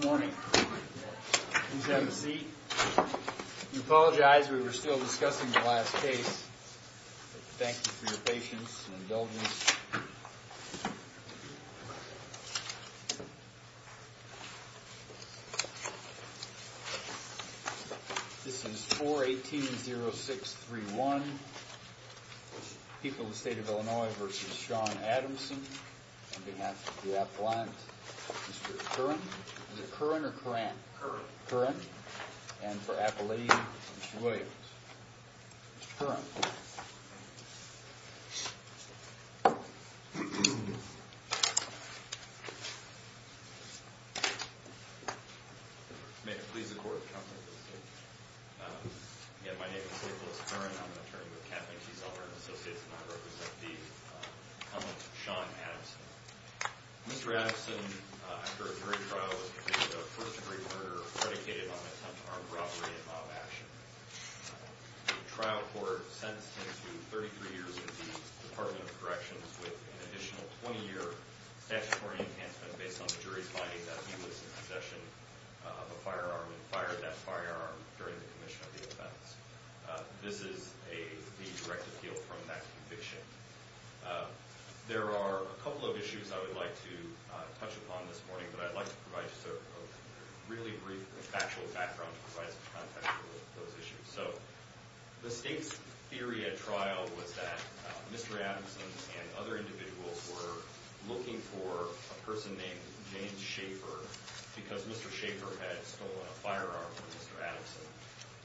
Good morning. Please have a seat. We apologize. We were still discussing the last case. Thank you for your patience and indulgence. This is 4-18-06-31. People of the State of Illinois v. Shawn Adamson. On behalf of the Appalachians, Mr. Curran. Is it Curran or Curran? Curran. And for Appalachians, Mr. Williams. Mr. Curran. May it please the Court, Your Honor. My name is Nicholas Curran. I'm an attorney with Kathleen T. Zellmer & Associates and I represent the Appalachians. I'm here to provide a brief factual background. The State's theory at trial was that Mr. Adamson and other individuals were looking for a person named James Schaefer because Mr. Schaefer had stolen a firearm from Mr. Adamson.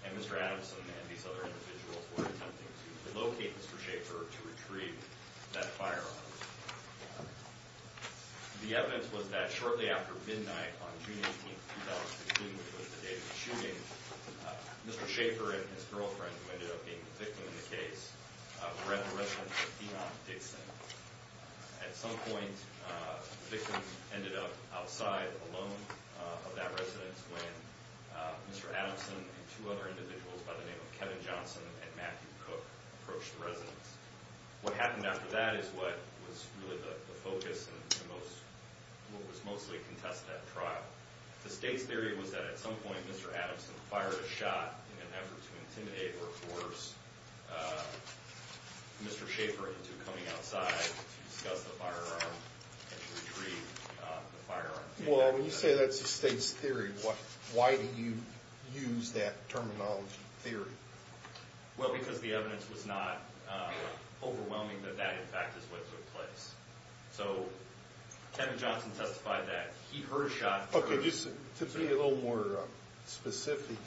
And Mr. Adamson and these other individuals were attempting to relocate Mr. Schaefer to retrieve that firearm. The evidence was that shortly after midnight on June 18, 2016, which was the day of the shooting, Mr. Schaefer and his girlfriend, who ended up being the victim of the case, were at the residence of Enoch Dixon. At some point, the victim ended up outside alone of that residence when Mr. Adamson and two other individuals by the name of Kevin Johnson and Matthew Cook approached the residence. What happened after that is what was really the focus and what was mostly contested at trial. The State's theory was that at some point Mr. Adamson fired a shot in an effort to intimidate or force Mr. Schaefer into coming outside to discuss the firearm and to retrieve the firearm. Well, when you say that's the State's theory, why did you use that terminology, theory? Well, because the evidence was not overwhelming that that, in fact, is what took place. So Kevin Johnson testified that he heard a shot first. Okay, just to be a little more specific,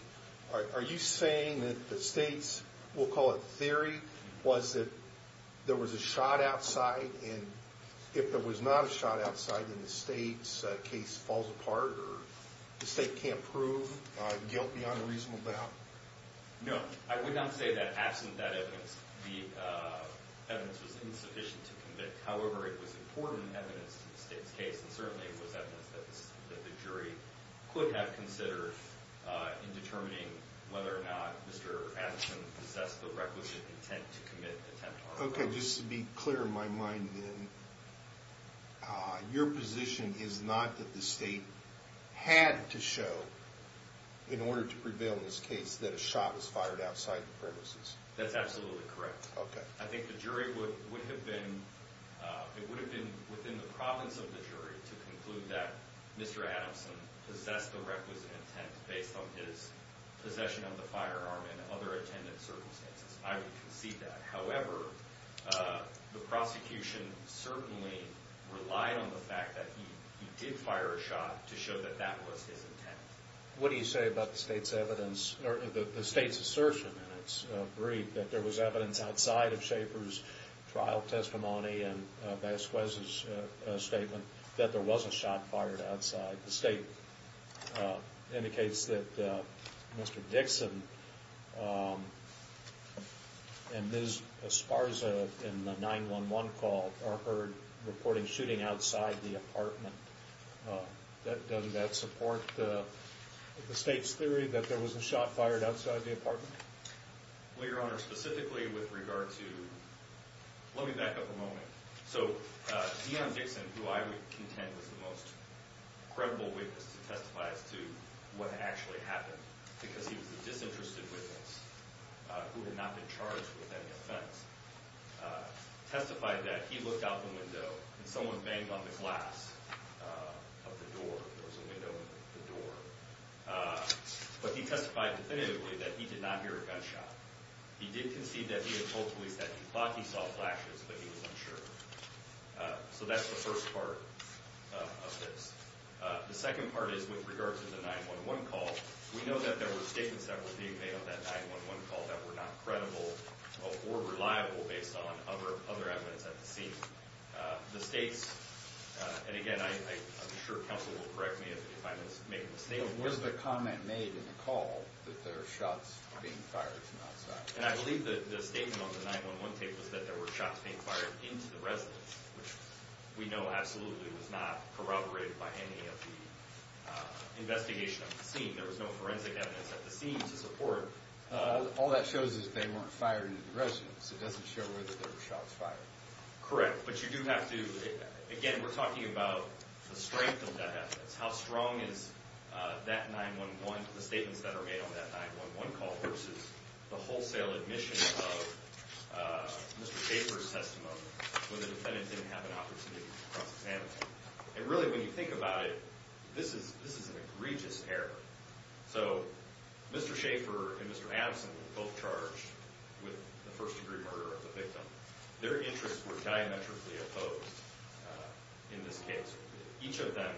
are you saying that the State's, we'll call it theory, was that there was a shot outside and if there was not a shot outside, then the State's case falls apart or the State can't prove guilt beyond a reasonable doubt? No, I would not say that it was insufficient to convict. However, it was important evidence to the State's case and certainly it was evidence that the jury could have considered in determining whether or not Mr. Adamson possessed the requisite intent to commit an attempt to harm. Okay, just to be clear in my mind then, your position is not that the State had to show in order to prevail in this case that a shot was fired outside the premises? That's absolutely correct. Okay. I think the jury would have been, it would have been within the province of the jury to conclude that Mr. Adamson possessed the requisite intent based on his possession of the firearm and other attendant circumstances. I would concede that. However, the prosecution certainly relied on the fact that he did fire a shot to show that that was his intent. What do you say about the State's evidence or the State's assertion in its brief that there was evidence outside of Shaffer's trial testimony and Vasquez's statement that there was a shot fired outside? The State indicates that Mr. Dixon and Ms. Esparza in the 911 call are heard reporting shooting outside the apartment. Doesn't that support the State's theory that there was a shot fired outside the Let me back up a moment. So Dion Dixon, who I would contend was the most credible witness to testify as to what actually happened, because he was a disinterested witness who had not been charged with any offense, testified that he looked out the window and someone banged on the glass of the door. There was a window in the door. But he testified definitively that he did not believe that he thought he saw flashes, but he was unsure. So that's the first part of this. The second part is with regard to the 911 call. We know that there were statements that were being made on that 911 call that were not credible or reliable based on other other evidence at the scene. The State's and again, I'm sure counsel will correct me if I make a mistake. Was the comment made in the call that there are shots being fired? And I believe that the statement on the 911 tape was that there were shots being fired into the residence, which we know absolutely was not corroborated by any of the investigation of the scene. There was no forensic evidence at the scene to support. All that shows is they weren't fired into the residence. It doesn't show where that there were shots fired. Correct. But you do have to. Again, we're talking about the strength of that evidence. How strong is that 911, the statements that are made on that 911 call versus the wholesale admission of Mr. Schaefer's testimony when the defendant didn't have an opportunity to cross examine. And really, when you think about it, this is this is an egregious error. So Mr. Schaefer and Mr. Adamson were both charged with the first degree murder of the victim. Their interests were diametrically opposed in this case. Each of them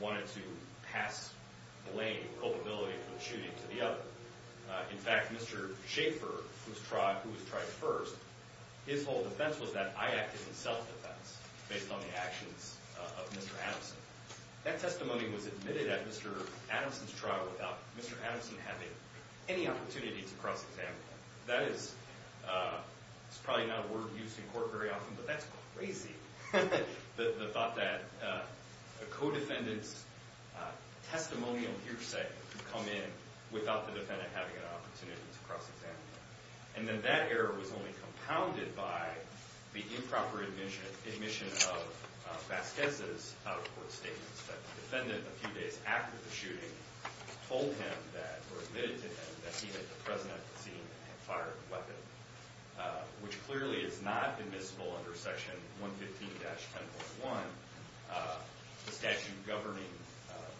wanted to pass blame, culpability for the shooting to the other. In fact, Mr. Schaefer, who was tried first, his whole defense was that I acted in self-defense based on the actions of Mr. Adamson. That testimony was admitted at Mr. Adamson's trial without Mr. Adamson having any opportunity to cross examine. That that's crazy. The thought that a co-defendant's testimonial hearsay could come in without the defendant having an opportunity to cross examine. And then that error was only compounded by the improper admission of Vasquez's out-of-court statements that the defendant, a few days after the shooting, told him that, or admitted to him, that he had fired the weapon, which clearly is not admissible under Section 115-10.1, the statute governing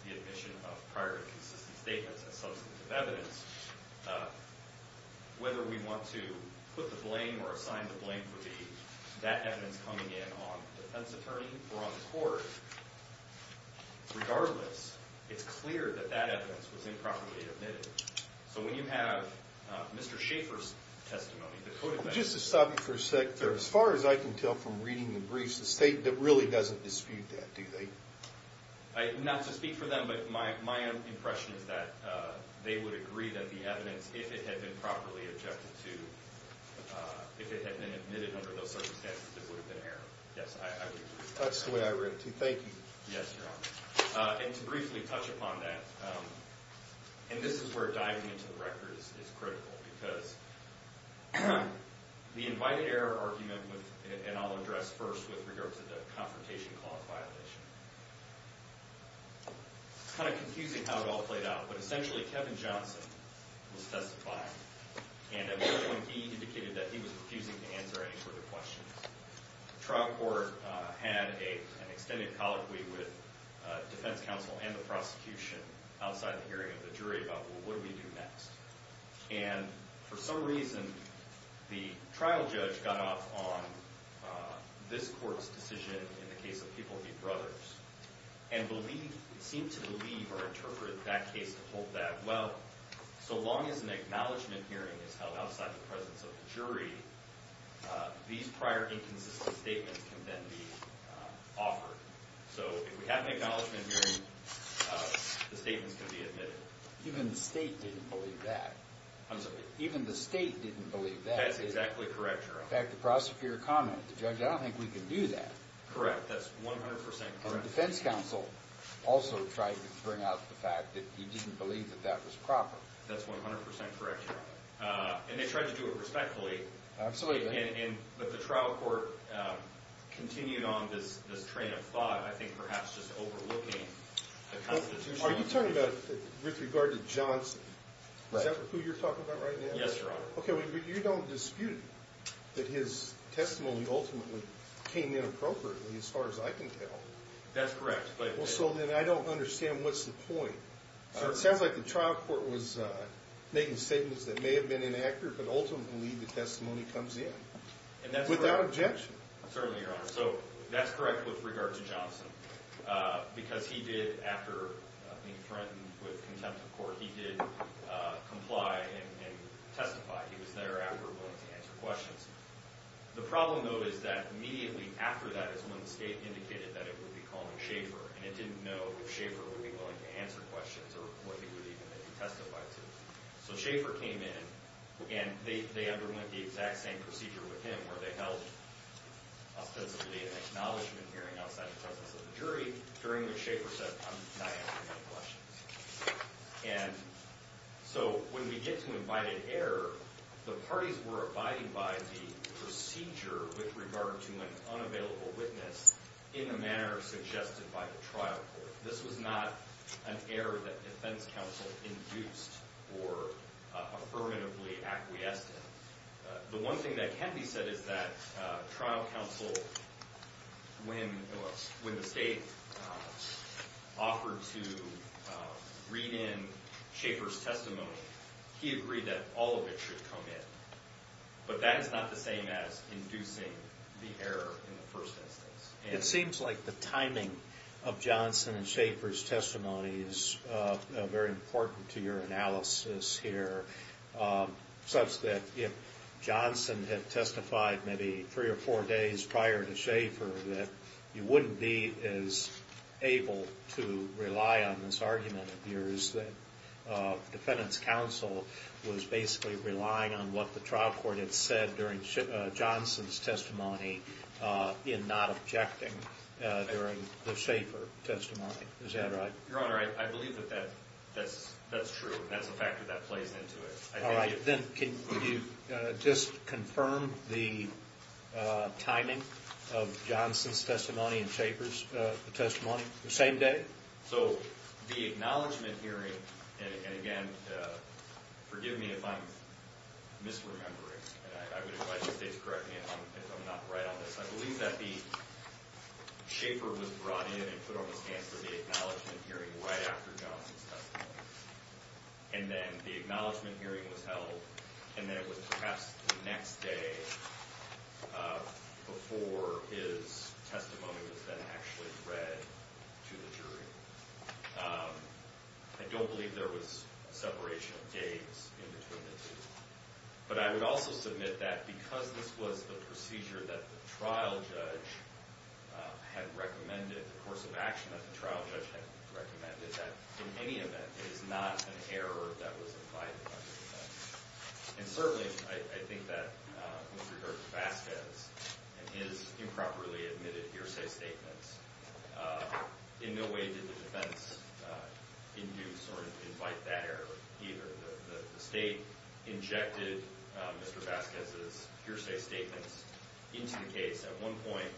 the admission of prior and consistent statements as substantive evidence. Whether we want to put the blame or assign the blame for that evidence coming in on the defense attorney or on the court, regardless, it's clear that that evidence was improperly admitted. So when you have Mr. Schaefer's testimony, the co-defendant... Just to stop you for a sec there, as far as I can tell from reading the briefs, the state really doesn't dispute that, do they? Not to speak for them, but my impression is that they would agree that the evidence, if it had been properly adjusted to, if it had been admitted under those circumstances, there would have been an error. Yes, I agree. That's the way I read it, too. Thank you. Yes, Your Honor. And to briefly touch upon that, and this is where diving into the record is critical, because the invited error argument, and I'll address first with regard to the Confrontation Clause violation, it's kind of confusing how it all played out, but essentially Kevin Johnson was testifying, and at one point he indicated that he was refusing to add an extended colloquy with defense counsel and the prosecution outside the hearing of the jury about, well, what do we do next? And for some reason, the trial judge got off on this court's decision in the case of People v. Brothers, and seemed to believe or interpret that case to hold that, well, so long as an acknowledgment hearing is held outside the presence of the jury, these prior inconsistent statements can then be offered. So if we have an acknowledgment hearing, the statements can be admitted. Even the state didn't believe that. I'm sorry? Even the state didn't believe that. That's exactly correct, Your Honor. In fact, the prosecutor commented, the judge, I don't think we can do that. Correct, that's 100% correct. And defense counsel also tried to bring out the fact that he didn't believe that that was proper. That's 100% correct, Your Honor. And they tried to do it respectfully. Absolutely. But the trial court continued on this train of thought, I think perhaps just overlooking the Constitution. Are you talking about with regard to Johnson? Is that who you're talking about right now? Yes, Your Honor. Okay, but you don't dispute that his testimony ultimately came in appropriately as far as I can tell. That's correct. Well, so then I don't understand what's the point. It sounds like the trial court was making statements that may have been inaccurate, but ultimately the testimony comes in without objection. Certainly, Your Honor. So that's correct with regard to Johnson because he did, after being threatened with contempt of court, he did comply and testify. He was thereafter willing to answer questions. The problem, though, is that immediately after that is when the state indicated that it would be calling Schaefer. And it didn't know if Schaefer would be willing to answer questions or what he would even testify to. So Schaefer came in and they underwent the exact same procedure with him where they held ostensibly an acknowledgement hearing outside the presence of the jury, during which Schaefer said, I'm not answering your questions. And so when we get to invited error, the parties were abiding by the procedure with regard to an unavailable witness in the manner suggested by the trial court. This was not an error that defense counsel induced or affirmatively acquiesced in. The one thing that can be said is that trial counsel, when the state offered to read in Schaefer's testimony, he agreed that all of it should come in. But that is not the same as inducing the error in the first instance. It seems like the timing of Johnson and Schaefer's testimony is very important to your analysis here, such that if Johnson had testified maybe three or four days prior to Schaefer, that you wouldn't be as able to rely on this argument of yours that defendant's counsel was basically relying on what the trial court had said during Johnson's testimony in not objecting during the Schaefer testimony. Is that right? Your Honor, I believe that that's true. That's a factor that plays into it. All right. Then can you just confirm the timing of Johnson's testimony and Schaefer's testimony the same day? So the acknowledgment hearing, and again, forgive me if I'm misremembering. I would advise the state to correct me if I'm not right on this. I believe that the Schaefer was brought in and put on his hands for the acknowledgment hearing right after Johnson's testimony. And then the acknowledgment hearing was held, and then it was perhaps the next day before his testimony was then actually read to the jury. I don't believe there was a separation of gaze in between the two. But I would also submit that because this was the procedure that the trial judge had recommended, the course of action that the trial judge had recommended, that in any event, it is not an error that was implied by the defendant. And certainly, I think that with regard to Vasquez and his improperly admitted hearsay statements, in no way did the defense induce or invite that error either. The state injected Mr. Vasquez's hearsay statements into the case. At one point,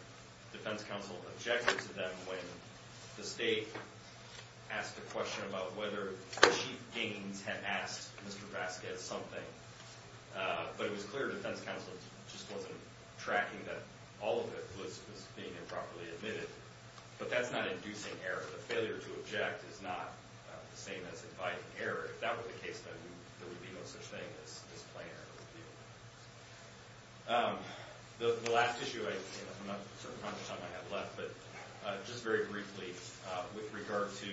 defense counsel objected to them when the state asked a question about whether Chief Gaines had asked Mr. Vasquez something. But it was clear defense counsel just wasn't tracking that all of it was being improperly admitted. But that's not inducing error. The failure to object is not the same as inviting error. If that were the case, then there would be no such thing as plain error. The last issue I have left, but just very briefly with regard to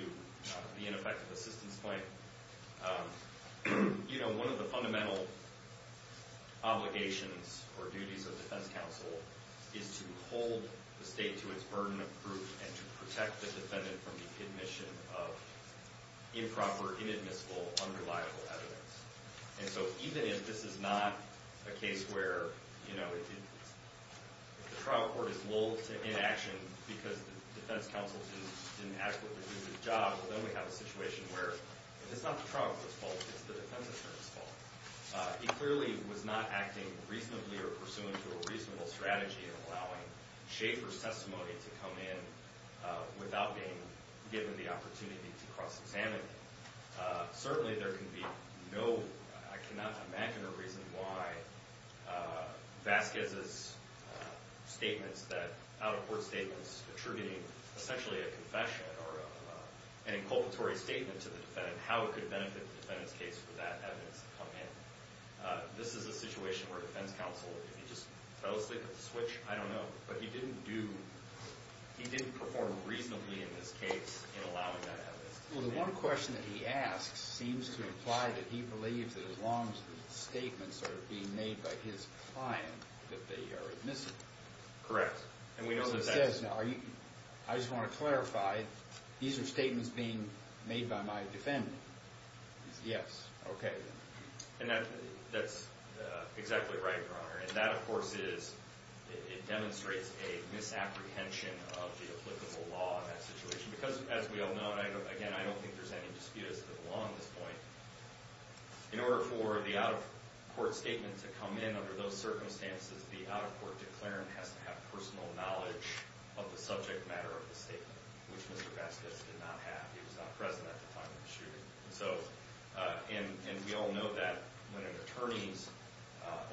the ineffective assistance claim. You know, one of the fundamental obligations or duties of defense counsel is to hold the state to its burden of proof and to protect the defendant from the admission of improper, inadmissible, unreliable evidence. And so even if this is not a case where, you know, the trial court is lulled to inaction because the defense counsel didn't adequately do its job, then we have a situation where it's not the trial court's fault, it's the defense attorney's fault. He clearly was not acting reasonably or pursuant to a reasonable strategy in allowing Schaefer's testimony to come in without being given the opportunity to cross-examine it. Certainly there can be no – I cannot imagine a reason why Vasquez's statements that – out-of-court statements attributing essentially a confession or an inculpatory statement to the defendant, how it could benefit the defendant's case for that evidence to come in. This is a situation where defense counsel, if he just fell asleep at the switch, I don't know. But he didn't do – he didn't perform reasonably in this case in allowing that evidence to come in. Well, the one question that he asks seems to imply that he believes that as long as the statements are being made by his client that they are admissible. Correct. And we know that that's – So he says, now, are you – I just want to clarify, these are statements being made by my defendant. He says, yes. Okay, then. And that's exactly right, Your Honor. And that, of course, is – it demonstrates a misapprehension of the applicable law in that situation. Because, as we all know, and again, I don't think there's any dispute as to the law on this point, in order for the out-of-court statement to come in under those circumstances, the out-of-court declarant has to have personal knowledge of the subject matter of the statement, which Mr. Vasquez did not have. He was not present at the time of the shooting. And we all know that when an attorney's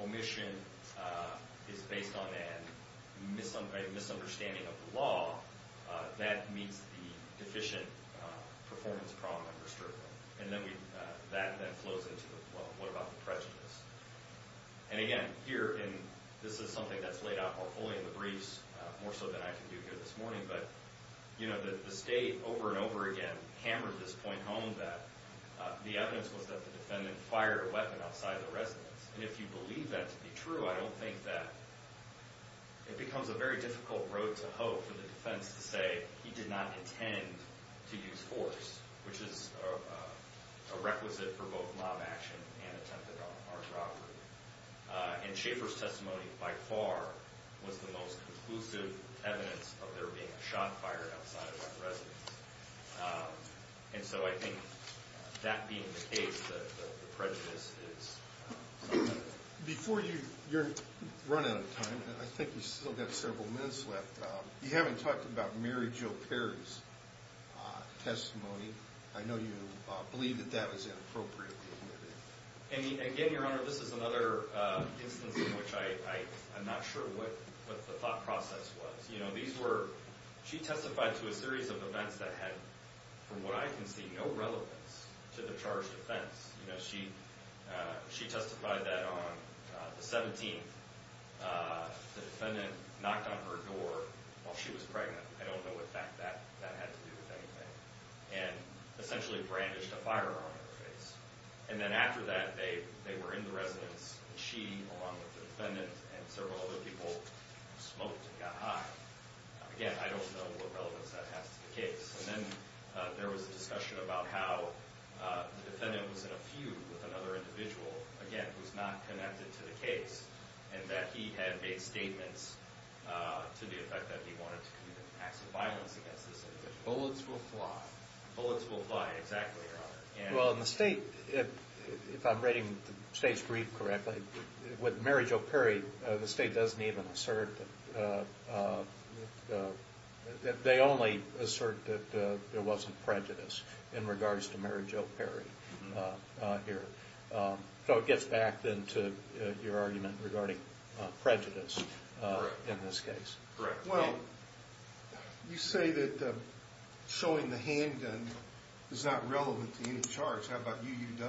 omission is based on a misunderstanding of the law, that means the deficient performance problem understood. And then that flows into, well, what about the prejudice? And again, here, and this is something that's laid out more fully in the briefs, more so than I can do here this morning, but, you know, the State over and over again hammered this point home that the evidence was that the defendant fired a weapon outside the residence. And if you believe that to be true, I don't think that – it becomes a very difficult road to hoe for the defense to say he did not intend to use force, which is a requisite for both mob action and attempted armed robbery. And Schaefer's testimony, by far, was the most conclusive evidence of there being a shot fired outside of that residence. And so I think that being the case, the prejudice is – Before you – you're running out of time, and I think we've still got several minutes left. You haven't talked about Mary Jo Perry's testimony. I know you believe that that was inappropriate behavior. And again, Your Honor, this is another instance in which I'm not sure what the thought process was. You know, these were – she testified to a series of events that had, from what I can see, no relevance to the charged offense. You know, she testified that on the 17th, the defendant knocked on her door while she was pregnant. I don't know what that had to do with anything, and essentially brandished a firearm in her face. And then after that, they were in the residence, and she, along with the defendant and several other people, smoked and got high. Again, I don't know what relevance that has to the case. And then there was a discussion about how the defendant was in a feud with another individual, again, who's not connected to the case, and that he had made statements to the effect that he wanted to commit acts of violence against this individual. Bullets will fly. Bullets will fly, exactly, Your Honor. Well, in the State, if I'm reading the State's brief correctly, with Mary Jo Perry, the State doesn't even assert that – they only assert that there wasn't prejudice in regards to Mary Jo Perry here. So it gets back, then, to your argument regarding prejudice in this case. Correct. Well, you say that showing the handgun is not relevant to any charge. How about UUW?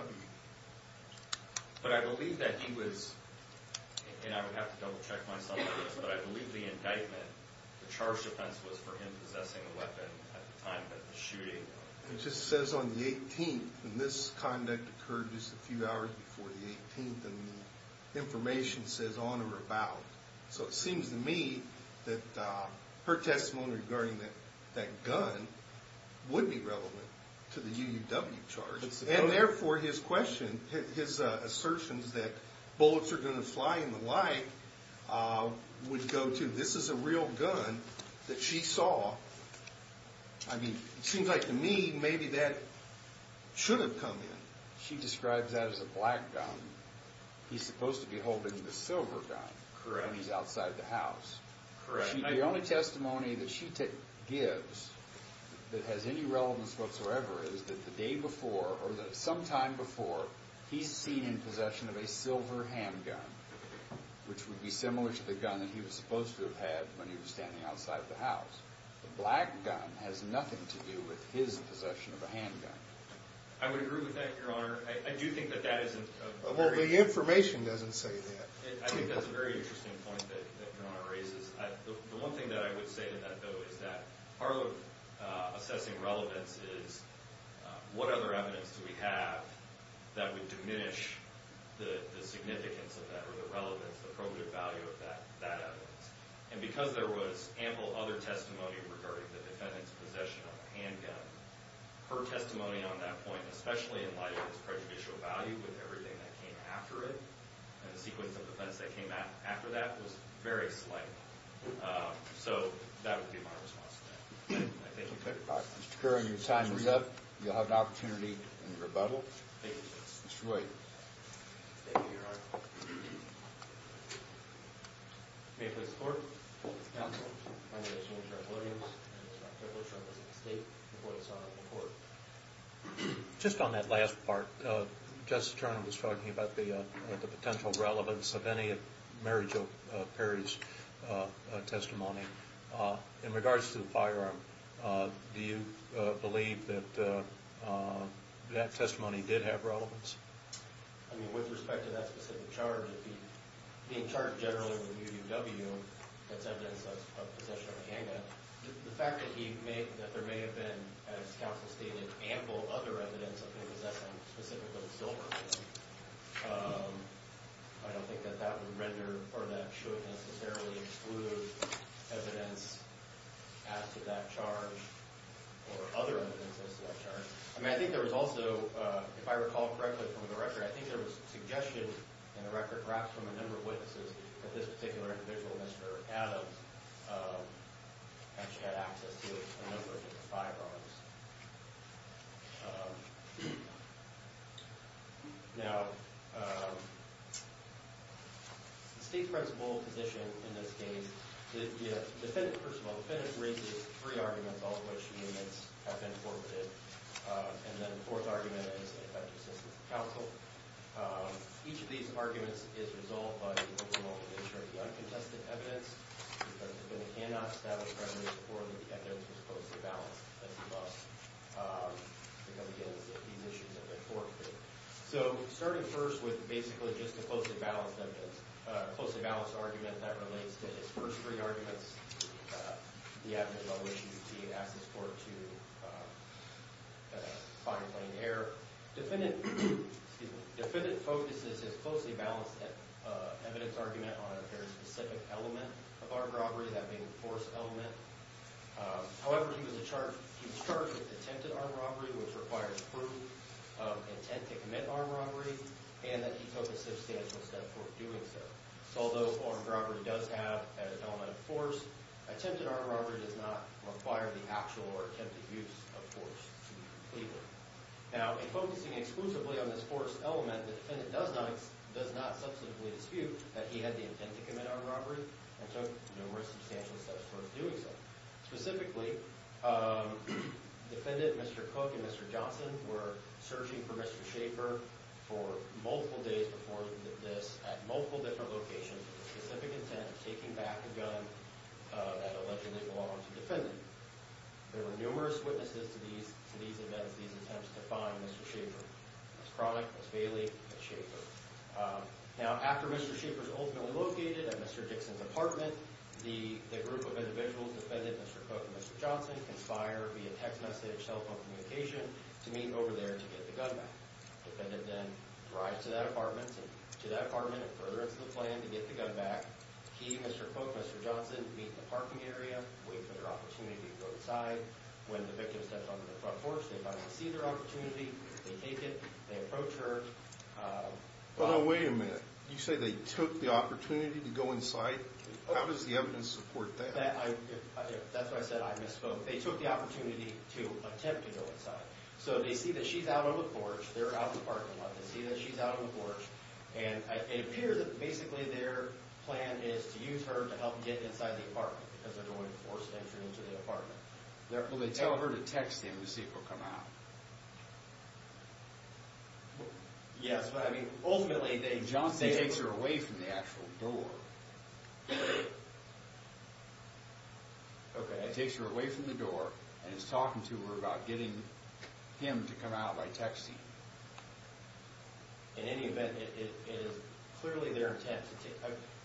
But I believe that he was – and I would have to double-check myself on this – but I believe the indictment, the charge defense, was for him possessing a weapon at the time of the shooting. It just says on the 18th, and this conduct occurred just a few hours before the 18th, and the information says on or about. So it seems to me that her testimony regarding that gun would be relevant to the UUW charge. And therefore, his question – his assertions that bullets are going to fly and the like would go to this is a real gun that she saw. I mean, it seems like to me maybe that should have come in. She describes that as a black gun. He's supposed to be holding the silver gun when he's outside the house. The only testimony that she gives that has any relevance whatsoever is that the day before or sometime before, he's seen in possession of a silver handgun, which would be similar to the gun that he was supposed to have had when he was standing outside the house. The black gun has nothing to do with his possession of a handgun. I would agree with that, Your Honor. I do think that that is a very – Well, the information doesn't say that. I think that's a very interesting point that Your Honor raises. The one thing that I would say to that, though, is that part of assessing relevance is what other evidence do we have that would diminish the significance of that or the relevance, the probative value of that evidence. And because there was ample other testimony regarding the defendant's possession of a handgun, her testimony on that point, especially in light of its prejudicial value with everything that came after it and the sequence of events that came after that, was very slight. So that would be my response to that. Thank you. Mr. Curran, your time is up. You'll have an opportunity in rebuttal. Thank you, Justice. Thank you, Your Honor. May it please the Court, Counsel, Foundation, and Tribal Audience, and the Tribal Assemblies of the State, and the voice of the Court. Just on that last part, Justice Turner was talking about the potential relevance of any of Mary Jo Perry's testimony. In regards to the firearm, do you believe that that testimony did have relevance? I mean, with respect to that specific charge, being charged generally with UUW, that's evidence of possession of a handgun, the fact that there may have been, as Counsel stated, ample other evidence of him possessing specifically a silver, I don't think that that would render, or that should necessarily exclude, evidence as to that charge, or other evidence as to that charge. I mean, I think there was also, if I recall correctly from the record, I think there was suggestion in the record, perhaps from a number of witnesses, that this particular individual, Mr. Adams, actually had access to a number of different firearms. Now, the State's principal position in this case, the defendant, first of all, the defendant raises three arguments, all of which have been forfeited. And then the fourth argument is, in effect, consistent with Counsel. Each of these arguments is resolved by the removal of the nature of the uncontested evidence, because the defendant cannot establish prejudice before the evidence was closely balanced, and thus, become the evidence that these issues have been forfeited. So, starting first with basically just a closely balanced evidence, a closely balanced argument that relates to his first three arguments, the evidence on which he had access for to find plain error. Defendant focuses his closely balanced evidence argument on a very specific element of armed robbery, that being the force element. However, he was charged with attempted armed robbery, which requires proof of intent to commit armed robbery, and that he took a substantial step towards doing so. So, although armed robbery does have an element of force, attempted armed robbery does not require the actual or attempted use of force to be completed. Now, in focusing exclusively on this force element, the defendant does not subsequently dispute that he had the intent to commit armed robbery, and took numerous substantial steps towards doing so. Specifically, defendant Mr. Cook and Mr. Johnson were searching for Mr. Schaefer for multiple days before this, with the specific intent of taking back a gun that allegedly belonged to the defendant. There were numerous witnesses to these events, these attempts to find Mr. Schaefer. Ms. Cronick, Ms. Bailey, Ms. Schaefer. Now, after Mr. Schaefer was ultimately located at Mr. Dixon's apartment, the group of individuals, defendant Mr. Cook and Mr. Johnson, conspire via text message, telephone communication, to meet over there to get the gun back. Defendant then drives to that apartment, and further into the plan to get the gun back. He, Mr. Cook, Mr. Johnson, meet in the parking area, wait for their opportunity to go inside. When the victim steps onto the front porch, they finally see their opportunity, they take it, they approach her. But wait a minute. You say they took the opportunity to go inside? How does the evidence support that? That's why I said I misspoke. They took the opportunity to attempt to go inside. So they see that she's out on the porch, they're out in the parking lot, they see that she's out on the porch, and it appears that basically their plan is to use her to help get inside the apartment, because they don't want to force entry into the apartment. Will they tell her to text him to see if he'll come out? Yes, but I mean, ultimately they... Johnson takes her away from the actual door. Okay. Takes her away from the door, and is talking to her about getting him to come out by texting. In any event, it is clearly their intent to take...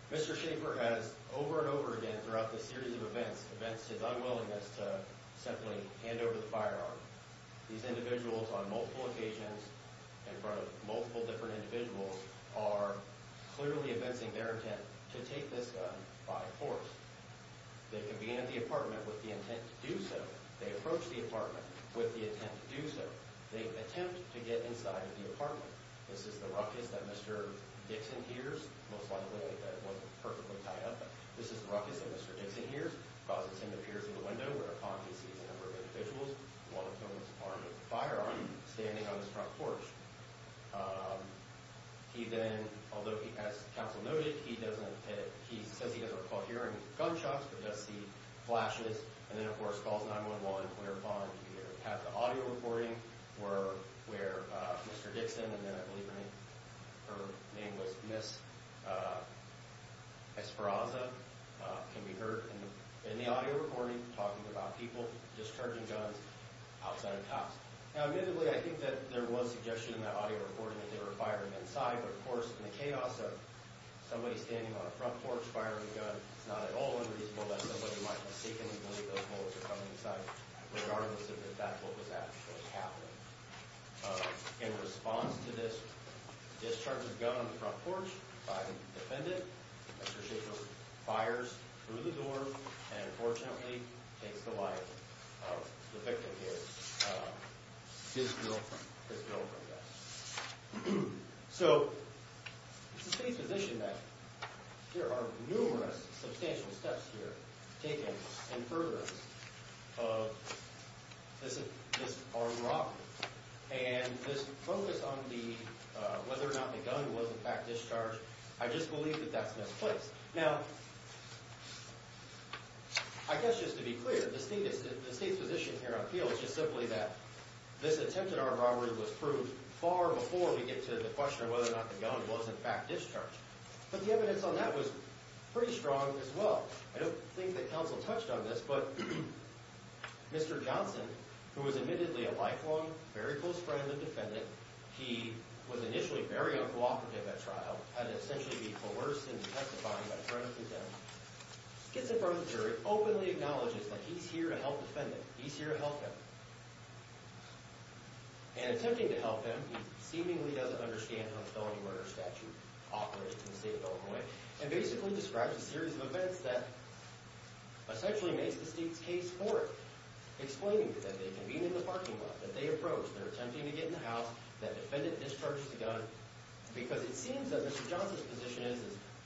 Mr. Schaefer has, over and over again, throughout this series of events, events to his unwillingness to simply hand over the firearm. These individuals, on multiple occasions, in front of multiple different individuals, are clearly evincing their intent to take this gun by force. They convene at the apartment with the intent to do so. They approach the apartment with the intent to do so. They attempt to get inside the apartment. This is the ruckus that Mr. Dixon hears, most likely that it wasn't perfectly tied up, but this is the ruckus that Mr. Dixon hears, causes him to peer through the window, where Pond sees a number of individuals, one of whom is the owner of the firearm, standing on his front porch. He then, although he has counsel noted, he says he doesn't recall hearing gunshots, but does see flashes, and then of course calls 911, where Pond either had the audio recording, or where Mr. Dixon, and then I believe her name was Miss, Esperanza, can be heard in the audio recording, talking about people discharging guns outside of cops. Now, admittedly, I think that there was suggestion in that audio recording that they were firing inside, but of course, in the chaos of somebody standing on a front porch firing a gun, it's not at all unreasonable that somebody might be seeking and believe those bullets were coming inside, regardless of in fact what was actually happening. In response to this discharging gun on the front porch, by the defendant, Mr. Shaffer fires through the door, and unfortunately takes the life of the victim, his girlfriend, his girlfriend, I guess. So, it's a safe position that there are numerous substantial steps here taken in furtherance of this armed robbery, and this focus on the, whether or not the gun was in fact discharged, I just believe that that's misplaced. Now, I guess just to be clear, the state's position here on appeal is just simply that this attempt at armed robbery was proved far before we get to the question of whether or not the gun was in fact discharged. But the evidence on that was pretty strong as well. I don't think that counsel touched on this, but Mr. Johnson, who was admittedly a lifelong, very close friend and defendant, he was initially very uncooperative at trial, had to essentially be coerced into testifying by threatening to kill him, gets in front of the jury, openly acknowledges that he's here to help defend him, he's here to help him. And attempting to help him, he seemingly doesn't understand how the felony murder statute operates in the state of Illinois, and basically describes a series of events that essentially makes the state's case for it, explaining that they convened in the parking lot, that they approached, they're attempting to get in the house, that defendant discharged the gun, because it seems that Mr. Johnson's position is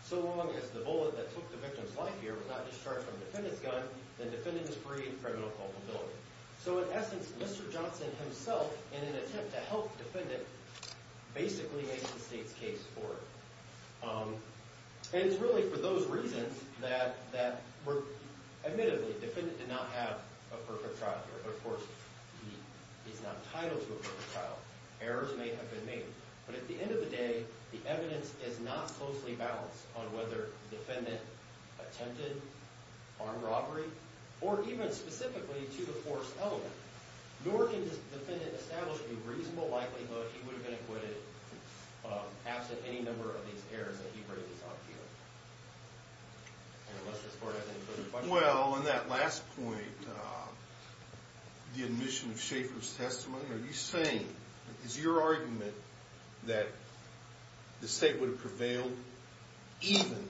so long as the bullet that took the victim's life here was not discharged from the defendant's gun, then the defendant is free of criminal culpability. So in essence, Mr. Johnson himself, in an attempt to help the defendant, basically makes the state's case for it. And it's really for those reasons that were, admittedly, the defendant did not have a perfect trial here, but of course, he's not entitled to a perfect trial. Errors may have been made. But at the end of the day, the evidence is not closely balanced on whether the defendant attempted armed robbery, or even specifically to the force element. Nor can the defendant establish a reasonable likelihood he would have been acquitted absent any number of these errors that he raises up here. And unless this court has any further questions. Well, on that last point, the admission of Schaefer's testimony, are you saying, is your argument that the state would have prevailed even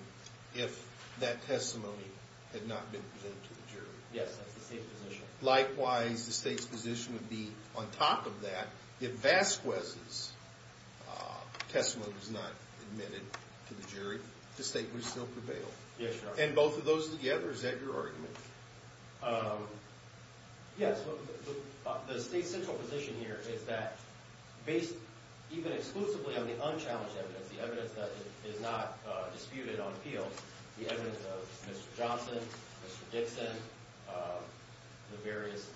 if that testimony had not been presented to the jury? Yes, that's the state's position. Likewise, the state's position would be, on top of that, if Vasquez's testimony was not admitted to the jury, the state would still prevail. Yes, Your Honor. And both of those together, is that your argument? Yes. The state's central position here is that, based even exclusively on the unchallenged evidence, the evidence that is not disputed on appeal, the evidence of Mr. Johnson, Mr. Dixon, the various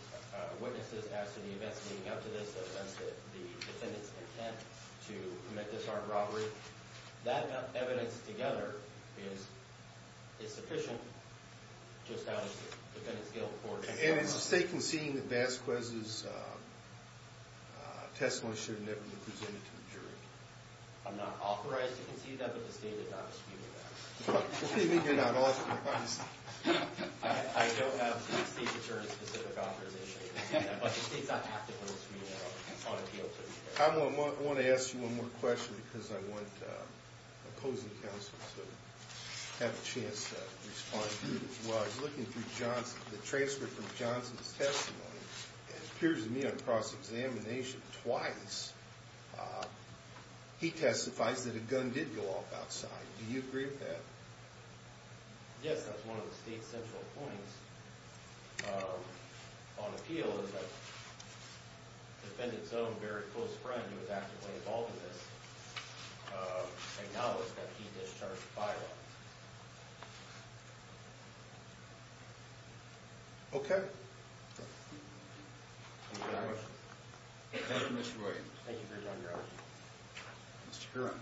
witnesses as to the events leading up to this, the defense, the defendant's intent to commit this armed robbery, that evidence together is sufficient just out of the defendant's guilt. And is the state conceding that Vasquez's testimony should have never been presented to the jury? I'm not authorized to concede that, but the state is not disputing that. What do you mean you're not authorized? I don't have state-determined specific authorization. But the state's not acting on a dispute at all, on appeal, to be fair. I want to ask you one more question because I want opposing counsels to have a chance to respond to this. While I was looking through Johnson, the transcript from Johnson's testimony, it appears to me on cross-examination twice, he testifies that a gun did go off outside. Do you agree with that? Yes, that's one of the state's central points. On appeal, as a defendant's own very close friend who was actively involved in this, acknowledged that he discharged violence. Okay. Thank you very much. Thank you, Mr. Roy. Thank you for your time, Your Honor. Mr. Curran.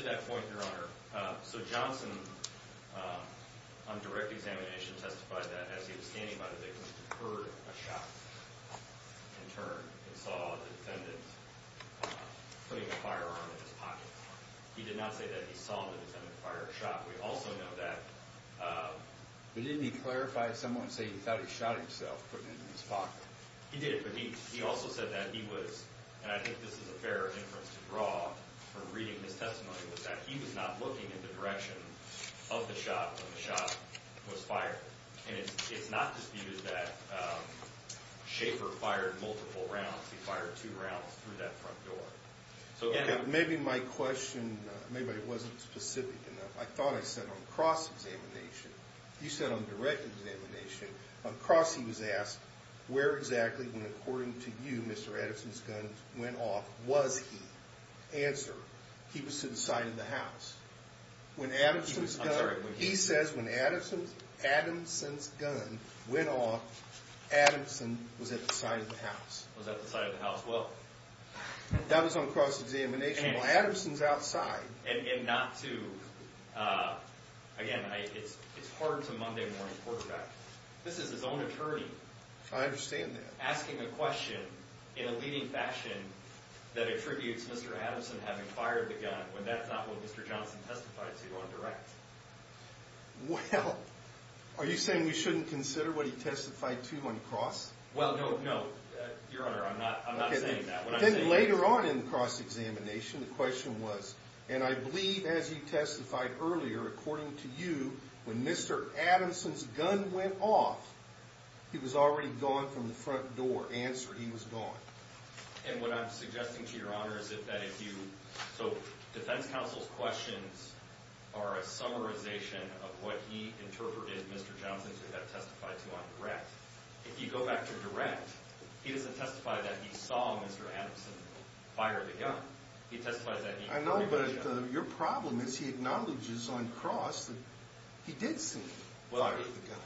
To that point, Your Honor, so Johnson, on direct examination, testified that as he was standing by the victim, he heard a shot in turn and saw a defendant putting a firearm in his pocket. He did not say that he saw the defendant fire a shot. We also know that. But didn't he clarify at some point and say he thought he shot himself putting it in his pocket? He did, but he also said that he was, and I think this is a fair inference to draw from reading his testimony, was that he was not looking in the direction of the shot when the shot was fired. And it's not disputed that Schaefer fired multiple rounds. He fired two rounds through that front door. Maybe my question wasn't specific enough. I thought I said on cross-examination. You said on direct examination. On cross, he was asked, where exactly when, according to you, Mr. Edison's gun went off, was he? Answer, he was to the side of the house. When Adamson's gun, he says when Adamson's gun went off, Adamson was at the side of the house. Was at the side of the house, well. That was on cross-examination. Adamson's outside. And not to, again, it's hard to Monday morning quarterback. This is his own attorney. I understand that. Asking a question in a leading fashion that attributes Mr. Adamson having fired the gun when that's not what Mr. Johnson testified to on direct. Well, are you saying we shouldn't consider what he testified to on cross? Well, no, no. Your Honor, I'm not saying that. Then later on in the cross-examination, the question was, and I believe as you testified earlier, according to you, when Mr. Adamson's gun went off, he was already gone from the front door. Answer, he was gone. And what I'm suggesting to your Honor is that if you, so defense counsel's questions are a summarization of what he interpreted Mr. Johnson to have testified to on direct. If you go back to direct, he doesn't testify that he saw Mr. Adamson fire the gun. He testifies that he heard the gun. I know, but your problem is he acknowledges on cross that he did see him fire the gun.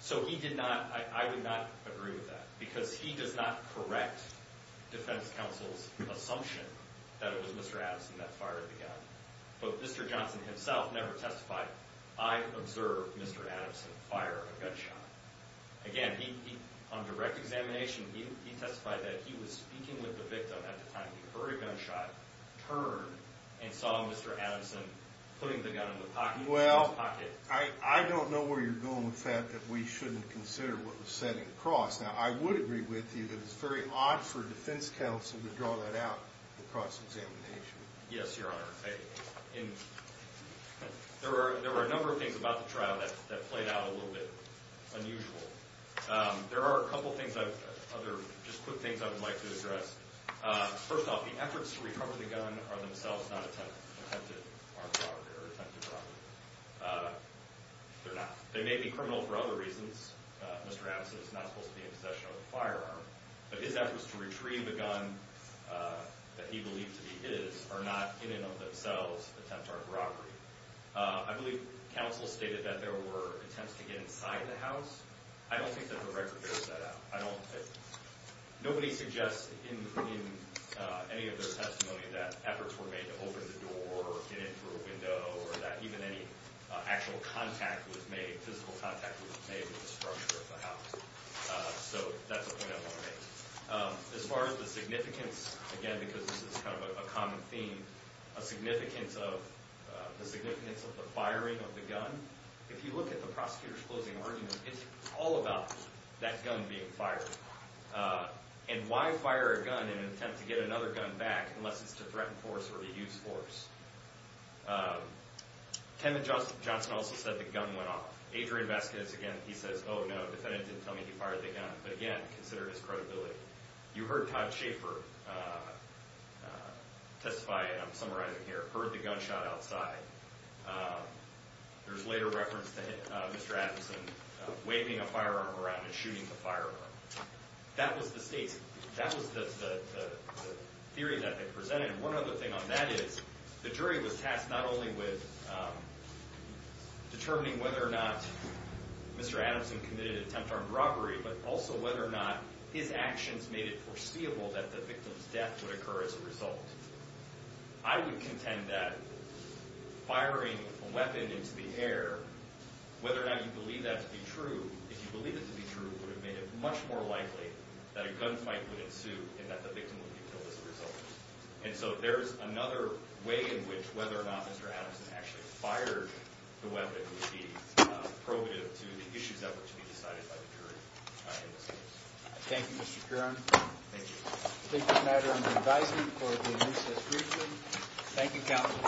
So he did not, I would not agree with that. Because he does not correct defense counsel's assumption that it was Mr. Adamson that fired the gun. But Mr. Johnson himself never testified, I observed Mr. Adamson fire a gunshot. Again, on direct examination, he testified that he was speaking with the victim at the time he heard a gunshot, turned, and saw Mr. Adamson putting the gun in his pocket. Well, I don't know where you're going with the fact that we shouldn't consider what was said in cross. Now, I would agree with you that it's very odd for defense counsel to draw that out in cross-examination. Yes, Your Honor. There were a number of things about the trial that played out a little bit unusual. There are a couple of things, just quick things I would like to address. First off, the efforts to recover the gun are themselves not attempted armed robbery or attempted robbery. They're not. They may be criminal for other reasons. Mr. Adamson is not supposed to be in possession of the firearm. But his efforts to retrieve the gun that he believed to be his are not, in and of themselves, attempted armed robbery. I believe counsel stated that there were attempts to get inside the house. I don't think that the record bears that out. Nobody suggests in any of their testimony that efforts were made to open the door or get in through a window or that even any actual contact was made, any physical contact was made with the structure of the house. So that's a point I want to make. As far as the significance, again, because this is kind of a common theme, the significance of the firing of the gun, if you look at the prosecutor's closing argument, it's all about that gun being fired. And why fire a gun in an attempt to get another gun back unless it's to threaten force or to use force? Tenet Johnson also said the gun went off. Adrian Vasquez, again, he says, oh, no, the defendant didn't tell me he fired the gun. But again, consider his credibility. You heard Todd Schaefer testify, and I'm summarizing here, heard the gunshot outside. There's later reference to Mr. Adamson waving a firearm around and shooting the firearm. That was the state's, that was the theory that they presented. And one other thing on that is the jury was tasked not only with determining whether or not Mr. Adamson committed an attempt on robbery, but also whether or not his actions made it foreseeable that the victim's death would occur as a result. I would contend that firing a weapon into the air, whether or not you believe that to be true, if you believe it to be true, would have made it much more likely that a gunfight would ensue and that the victim would be killed as a result. And so there's another way in which whether or not Mr. Adamson actually fired the weapon would be probative to the issues that were to be decided by the jury in this case. Thank you, Mr. Curran. Thank you. I think this matter under advisement for the recess briefly. Thank you, counsel.